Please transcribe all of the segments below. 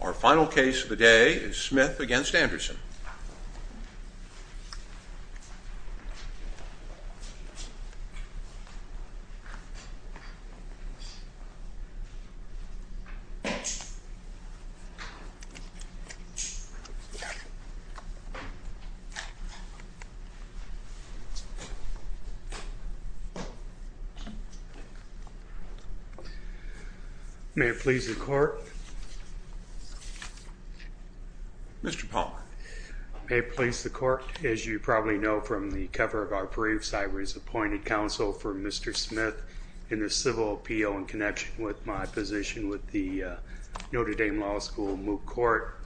Our final case of the day is Smith v. Anderson Our first witness today is Mr. Jake Smith Jake Smith v. Anderson May it please the court, as you probably know from the cover of our briefs, I was appointed counsel for Mr. Smith in the civil appeal in connection with my position with the Notre Dame Law School Moot Court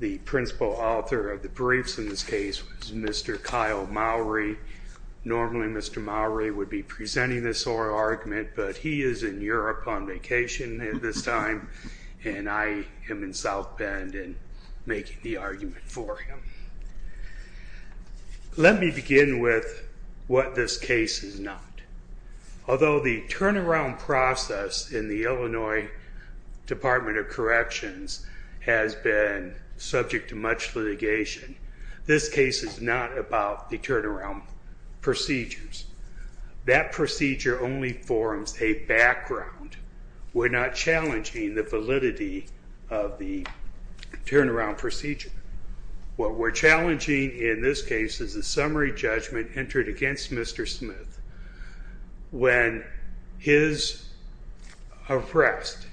The principal author of the briefs in this case was Mr. Kyle Mowry Normally, Mr. Mowry would be presenting this oral argument But he is in Europe on vacation at this time, and I am in South Bend and making the argument for him Let me begin with what this case is not Although the turnaround process in the Illinois Department of Corrections has been subject to much litigation This case is not about the turnaround procedures That procedure only forms a background We're not challenging the validity of the turnaround procedure What we're challenging in this case is the summary judgment entered against Mr. Smith when his arrest,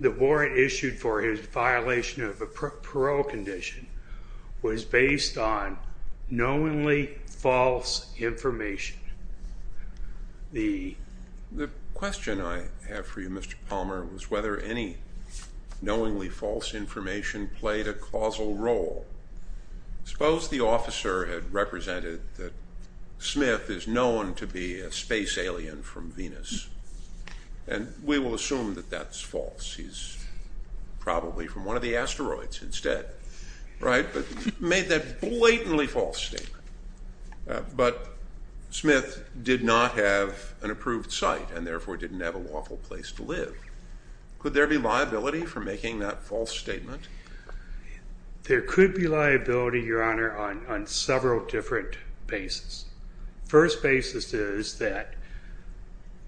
the warrant issued for his violation of a parole condition was based on knowingly false information The The question I have for you, Mr. Palmer was whether any knowingly false information played a causal role Suppose the officer had represented that Smith is known to be a space alien from Venus and We will assume that that's false. He's Probably from one of the asteroids instead, right, but made that blatantly false statement But Smith did not have an approved site and therefore didn't have a lawful place to live Could there be liability for making that false statement? There could be liability, your honor, on several different bases. First basis is that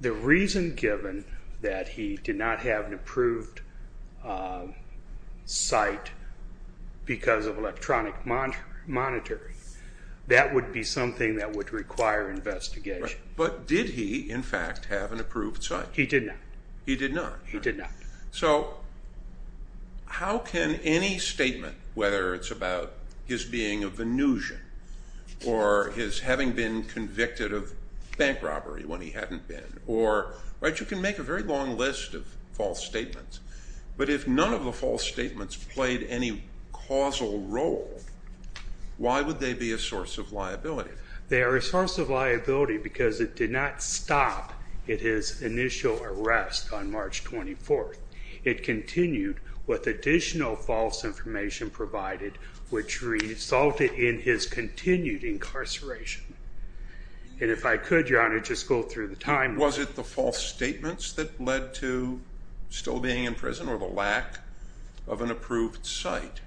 The reason given that he did not have an approved Site because of electronic monitoring That would be something that would require Investigation, but did he in fact have an approved site? He did not. He did not. He did not. So How can any statement whether it's about his being a Venusian? or his having been convicted of bank robbery when he hadn't been or Right, you can make a very long list of false statements But if none of the false statements played any causal role Why would they be a source of liability? They are a source of liability because it did not stop at his initial arrest on March 24th It continued with additional false information provided which resulted in his continued incarceration And if I could, your honor, just go through the timeline. Was it the false statements that led to Still being in prison or the lack of an approved site?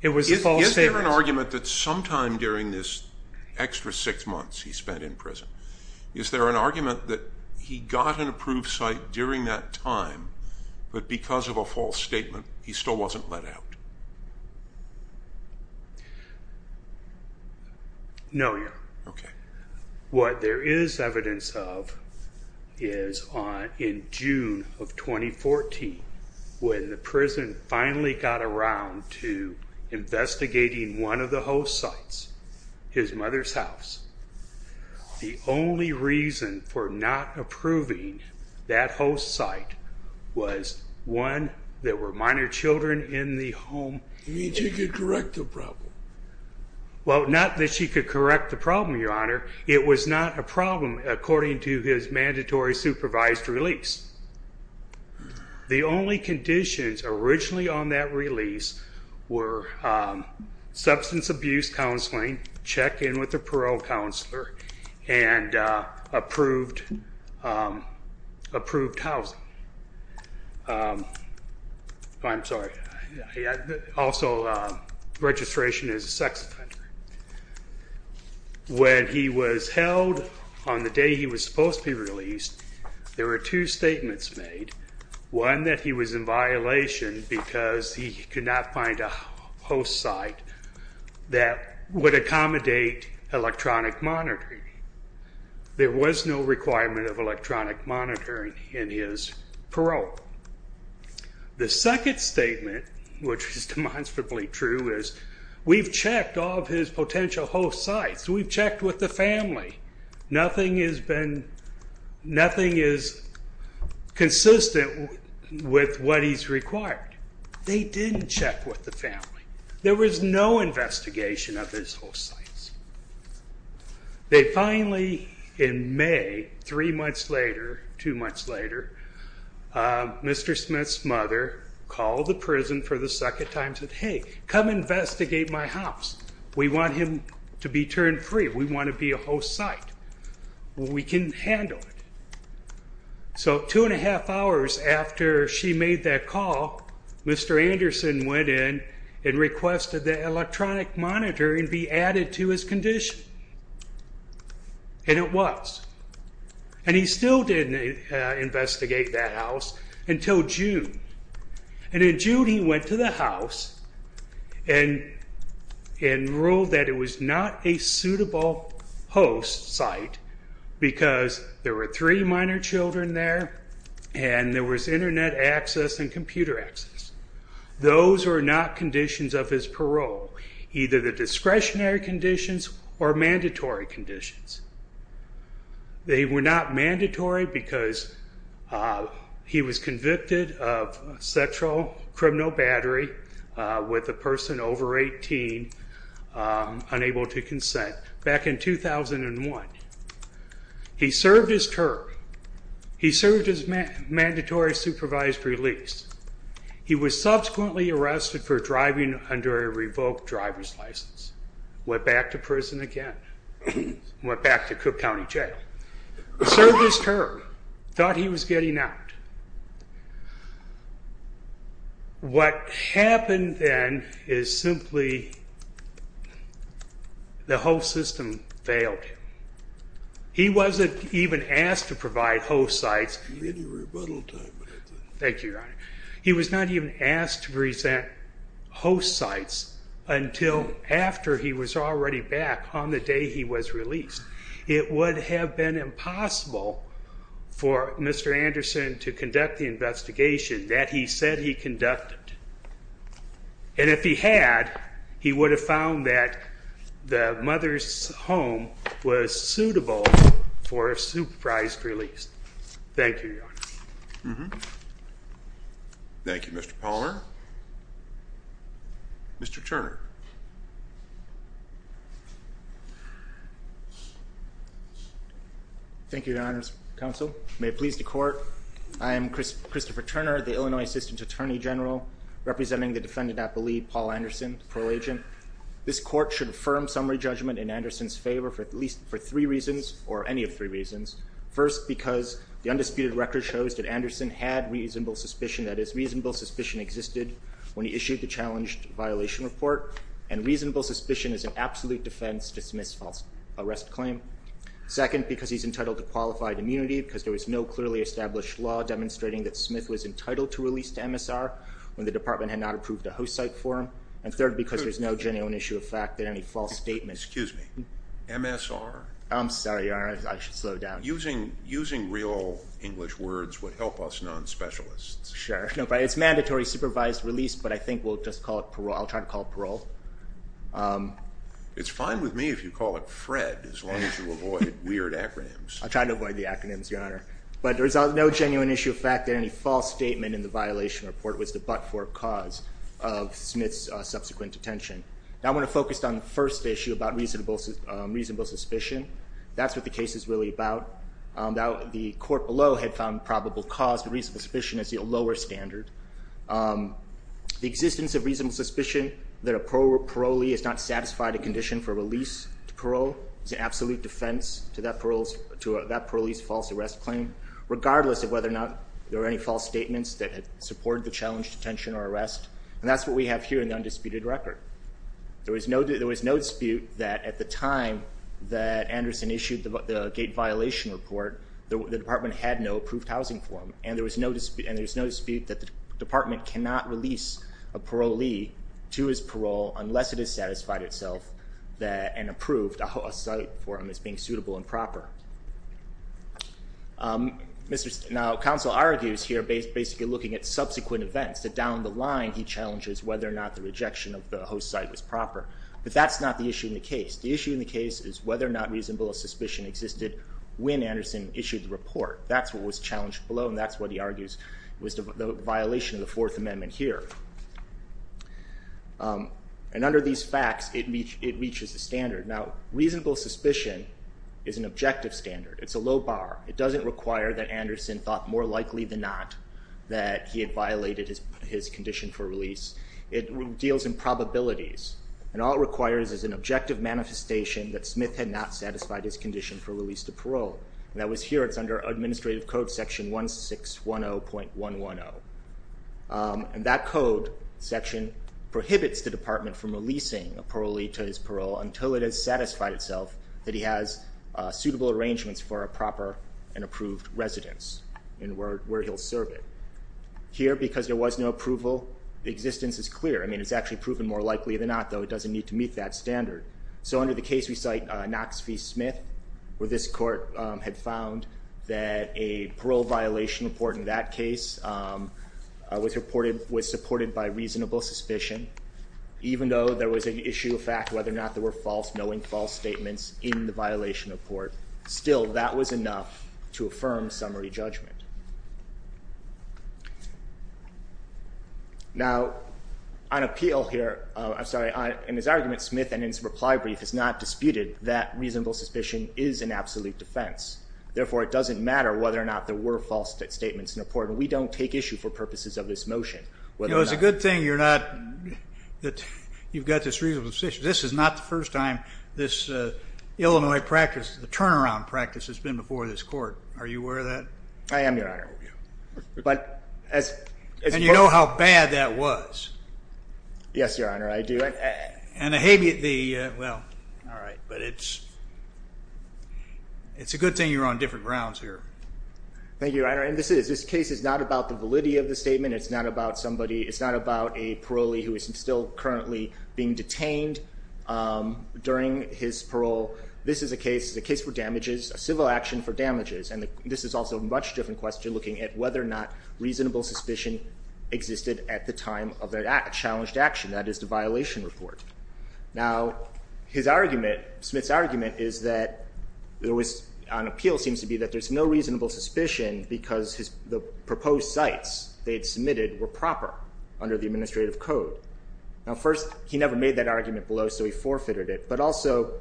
It was a false statement. Is there an argument that sometime during this Extra six months he spent in prison. Is there an argument that he got an approved site during that time? But because of a false statement, he still wasn't let out No, your honor. Okay. What there is evidence of is In June of 2014 when the prison finally got around to investigating one of the host sites, his mother's house The only reason for not approving that host site Was one that were minor children in the home. You mean she could correct the problem? Well, not that she could correct the problem, your honor It was not a problem according to his mandatory supervised release The only conditions originally on that release were Substance abuse counseling, check in with the parole counselor, and approved Approved housing I'm sorry, also registration as a sex offender When he was held on the day he was supposed to be released There were two statements made. One that he was in violation because he could not find a host site That would accommodate electronic monitoring There was no requirement of electronic monitoring in his parole The second statement, which is demonstrably true, is we've checked all of his potential host sites We've checked with the family Nothing has been Nothing is Consistent with what he's required. They didn't check with the family. There was no investigation of his host sites They finally, in May, three months later, two months later Mr. Smith's mother called the prison for the second time and said, hey, come investigate my house We want him to be turned free. We want to be a host site We can handle it So two and a half hours after she made that call Mr. Anderson went in and requested the electronic monitor and be added to his condition And it was And he still didn't Investigate that house until June. And in June, he went to the house and And ruled that it was not a suitable host site Because there were three minor children there and there was internet access and computer access Those were not conditions of his parole, either the discretionary conditions or mandatory conditions They were not mandatory because He was convicted of sexual criminal battery with a person over 18 Unable to consent back in 2001 He served his term He served his mandatory supervised release He was subsequently arrested for driving under a revoked driver's license, went back to prison again Went back to Cook County Jail. Served his term, thought he was getting out What happened then is simply The whole system failed He wasn't even asked to provide host sites Thank you, your honor. He was not even asked to present Host sites Until after he was already back on the day. He was released. It would have been impossible For Mr. Anderson to conduct the investigation that he said he conducted And if he had he would have found that The mother's home was suitable for a supervised release. Thank you Thank You, Mr. Palmer Mr. Turner Thank you, your honor's counsel, may it please the court I am Christopher Turner, the Illinois assistant attorney general Representing the defendant at the lead, Paul Anderson, parole agent This court should affirm summary judgment in Anderson's favor for at least for three reasons or any of three reasons First because the undisputed record shows that Anderson had reasonable suspicion That is reasonable suspicion existed when he issued the challenged violation report and reasonable suspicion is an absolute defense to Smith's false arrest claim Second because he's entitled to qualified immunity because there was no clearly established law Demonstrating that Smith was entitled to release to MSR When the department had not approved a host site for him and third because there's no genuine issue of fact that any false statement Excuse me MSR. I'm sorry, your honor. I should slow down. Using real English words would help us non-specialists Sure, no, but it's mandatory supervised release, but I think we'll just call it parole. I'll try to call parole It's fine with me if you call it FRED as long as you avoid weird acronyms I'll try to avoid the acronyms your honor but there's no genuine issue of fact that any false statement in the violation report was the but-for cause of Smith's subsequent detention. Now, I want to focus on the first issue about reasonable reasonable suspicion. That's what the case is really about Now the court below had found probable cause the reason suspicion is a lower standard The existence of reasonable suspicion that a parolee is not satisfied a condition for release to parole It's an absolute defense to that parolees false arrest claim Regardless of whether or not there were any false statements that had supported the challenge detention or arrest and that's what we have here in the undisputed record There was no there was no dispute that at the time that Anderson issued the gate violation report the department had no approved housing for him And there was no dispute and there's no dispute that the department cannot release a parolee To his parole unless it is satisfied itself that and approved a site for him as being suitable and proper Mr.. Now counsel argues here based basically looking at subsequent events that down the line He challenges whether or not the rejection of the host site was proper But that's not the issue in the case the issue in the case is whether or not reasonable suspicion existed when Anderson issued the report That's what was challenged below. And that's what he argues was the violation of the Fourth Amendment here And under these facts it means it reaches the standard now reasonable suspicion is an objective standard It's a low bar It doesn't require that Anderson thought more likely than not that he had violated his condition for release it deals in probabilities And all it requires is an objective manifestation that Smith had not satisfied his condition for release to parole and that was here It's under administrative code section one six one oh point one one oh And that code section prohibits the department from releasing a parolee to his parole until it has satisfied itself that he has Approved residence and where he'll serve it Here because there was no approval the existence is clear. I mean, it's actually proven more likely than not though It doesn't need to meet that standard So under the case we cite Knox v. Smith where this court had found that a parole violation report in that case Was reported was supported by reasonable suspicion Even though there was an issue of fact whether or not there were false knowing false statements in the violation of court still that was enough to affirm summary judgment Now On appeal here. I'm sorry in his argument Smith and in some reply brief is not disputed that reasonable suspicion is an absolute defense Therefore it doesn't matter whether or not there were false that statements in a port and we don't take issue for purposes of this motion Well, it's a good thing. You're not That you've got this reasonable decision. This is not the first time this Illinois practice the turnaround practice has been before this court. Are you aware of that? I am your honor but as You know how bad that was Yes, your honor. I do it and a habeat the well, all right, but it's It's a good thing you're on different grounds here Thank you, and this is this case is not about the validity of the statement. It's not about somebody It's not about a parolee who is still currently being detained During his parole This is a case the case for damages a civil action for damages and this is also a much different question looking at whether or not reasonable suspicion Existed at the time of that act challenged action. That is the violation report now His argument Smith's argument is that there was an appeal seems to be that there's no reasonable suspicion Because his the proposed sites they had submitted were proper under the administrative code Now first he never made that argument below so he forfeited it but also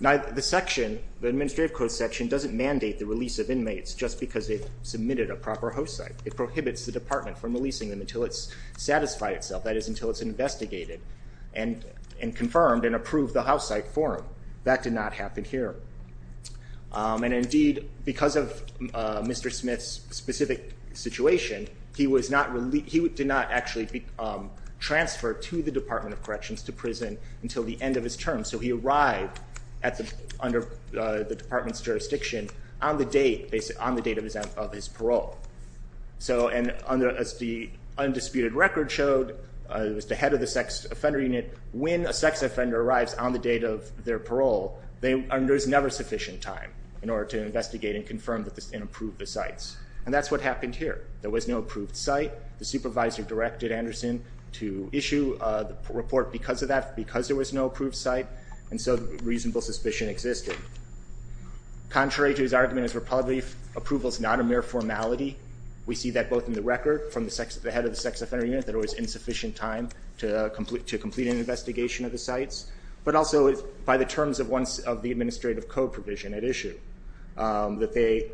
Now the section the administrative code section doesn't mandate the release of inmates just because they've submitted a proper host site It prohibits the department from releasing them until it's satisfied itself. That is until it's investigated and Confirmed and approved the house site forum that did not happen here And indeed because of mr. Smith's specific situation. He was not really he would did not actually be Transferred to the Department of Corrections to prison until the end of his term So he arrived at the under the department's jurisdiction on the date based on the date of his of his parole so and under as the Undisputed record showed it was the head of the sex offender unit when a sex offender arrives on the date of their parole They are there's never sufficient time in order to investigate and confirm that this didn't approve the sites and that's what happened here There was no approved site. The supervisor directed Anderson to issue the report because of that because there was no approved site And so the reasonable suspicion existed Contrary to his argument as Republic approvals not a mere formality We see that both in the record from the sex of the head of the sex offender unit that it was insufficient time to complete to Complete an investigation of the sites, but also is by the terms of once of the administrative code provision at issue that they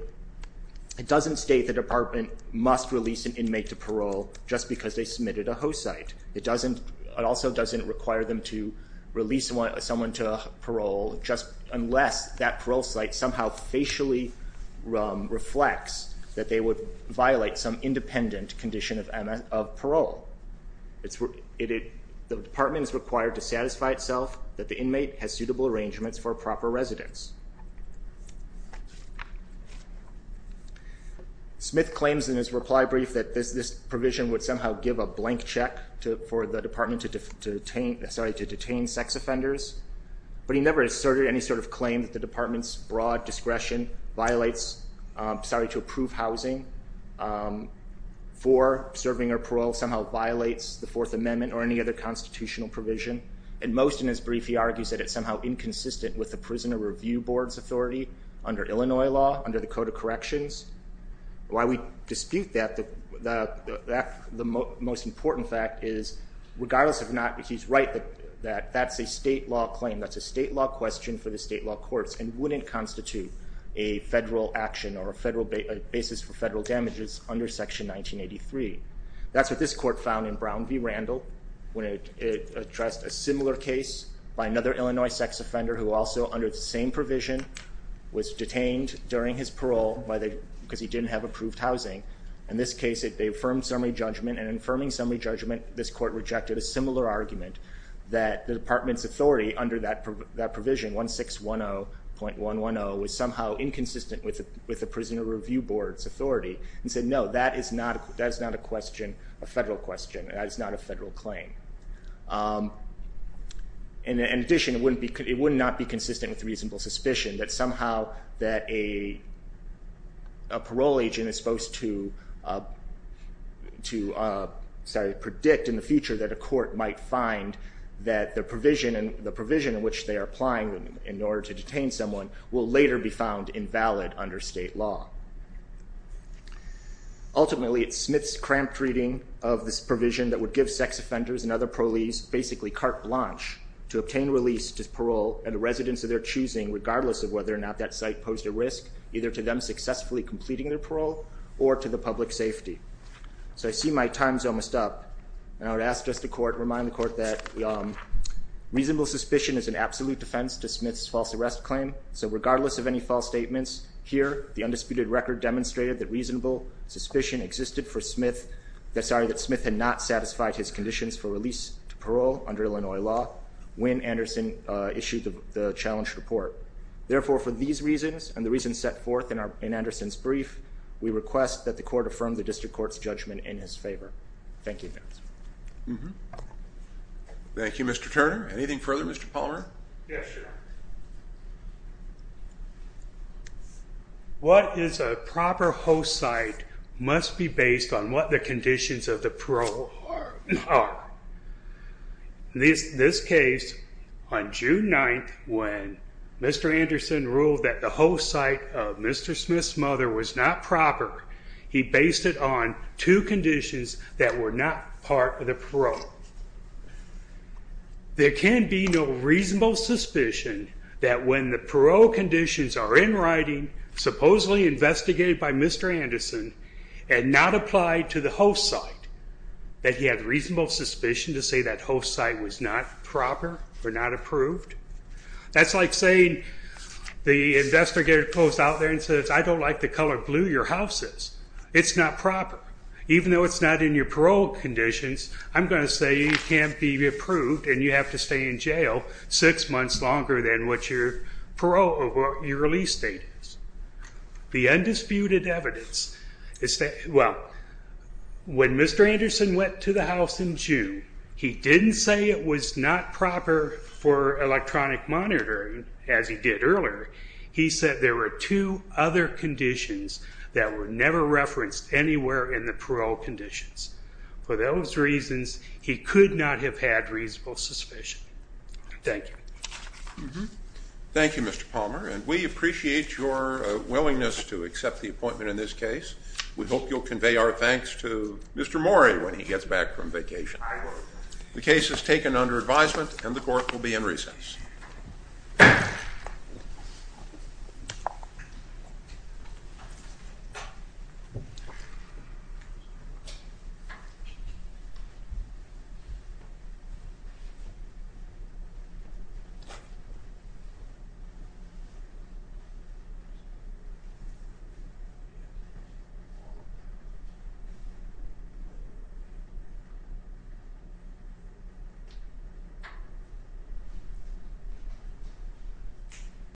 Doesn't state the department must release an inmate to parole just because they submitted a host site It doesn't it also doesn't require them to release one someone to parole just unless that parole site somehow facially Reflects that they would violate some independent condition of Emma of parole It's it the department is required to satisfy itself that the inmate has suitable arrangements for proper residence Smith claims in his reply brief that this this provision would somehow give a blank check to for the department to Detain sorry to detain sex offenders, but he never asserted any sort of claim that the department's broad discretion violates Sorry to approve housing For serving or parole somehow violates the Fourth Amendment or any other constitutional provision and most in his brief He argues that it's somehow inconsistent with the prisoner review board's authority under Illinois law under the Code of Corrections Why we dispute that the that the most important fact is Regardless of not he's right that that that's a state law claim that's a state law question for the state law courts and wouldn't constitute a Federal action or a federal basis for federal damages under section 1983 That's what this court found in Brown v. Randall when it Addressed a similar case by another Illinois sex offender who also under the same provision Was detained during his parole by the because he didn't have approved housing in this case If they affirmed summary judgment and affirming summary judgment This court rejected a similar argument that the department's authority under that that provision one six one Oh point one one. Oh was somehow inconsistent with with the prisoner review board's authority and said no That is not that is not a question a federal question. That is not a federal claim and in addition wouldn't be could it would not be consistent with reasonable suspicion that somehow that a Parole agent is supposed to to Sorry predict in the future that a court might find That the provision and the provision in which they are applying them in order to detain someone will later be found invalid under state law Ultimately, it's Smith's cramped reading of this provision that would give sex offenders and other proleagues basically carte blanche To obtain release to parole and the residents of their choosing regardless of whether or not that site posed a risk either to them Successfully completing their parole or to the public safety So I see my time's almost up and I would ask just a court remind the court that Reasonable suspicion is an absolute defense to Smith's false arrest claim So regardless of any false statements here the undisputed record demonstrated that reasonable suspicion existed for Smith That sorry that Smith had not satisfied his conditions for release to parole under Illinois law when Anderson issued the challenge report Therefore for these reasons and the reasons set forth in our in Anderson's brief We request that the court affirmed the district courts judgment in his favor. Thank you Thank You, mr. Turner anything further mr. Palmer Yes, sir What is a proper host site must be based on what the conditions of the parole are This this case on June 9th when Mr. Anderson ruled that the whole site of mr. Smith's mother was not proper He based it on two conditions that were not part of the parole There can be no reasonable suspicion that when the parole conditions are in writing Supposedly investigated by mr. Anderson and not applied to the host site That he had reasonable suspicion to say that host site was not proper or not approved That's like saying The investigator closed out there and says I don't like the color blue your house is it's not proper Even though it's not in your parole conditions I'm gonna say you can't be approved and you have to stay in jail six months longer than what your parole or your release date the undisputed evidence Is that well? When mr. Anderson went to the house in June He didn't say it was not proper for electronic monitoring as he did earlier He said there were two other Conditions that were never referenced anywhere in the parole conditions for those reasons He could not have had reasonable suspicion Thank you Thank You mr. Palmer and we appreciate your willingness to accept the appointment in this case. We hope you'll convey our thanks to Mr. Mori when he gets back from vacation The case is taken under advisement and the court will be in recess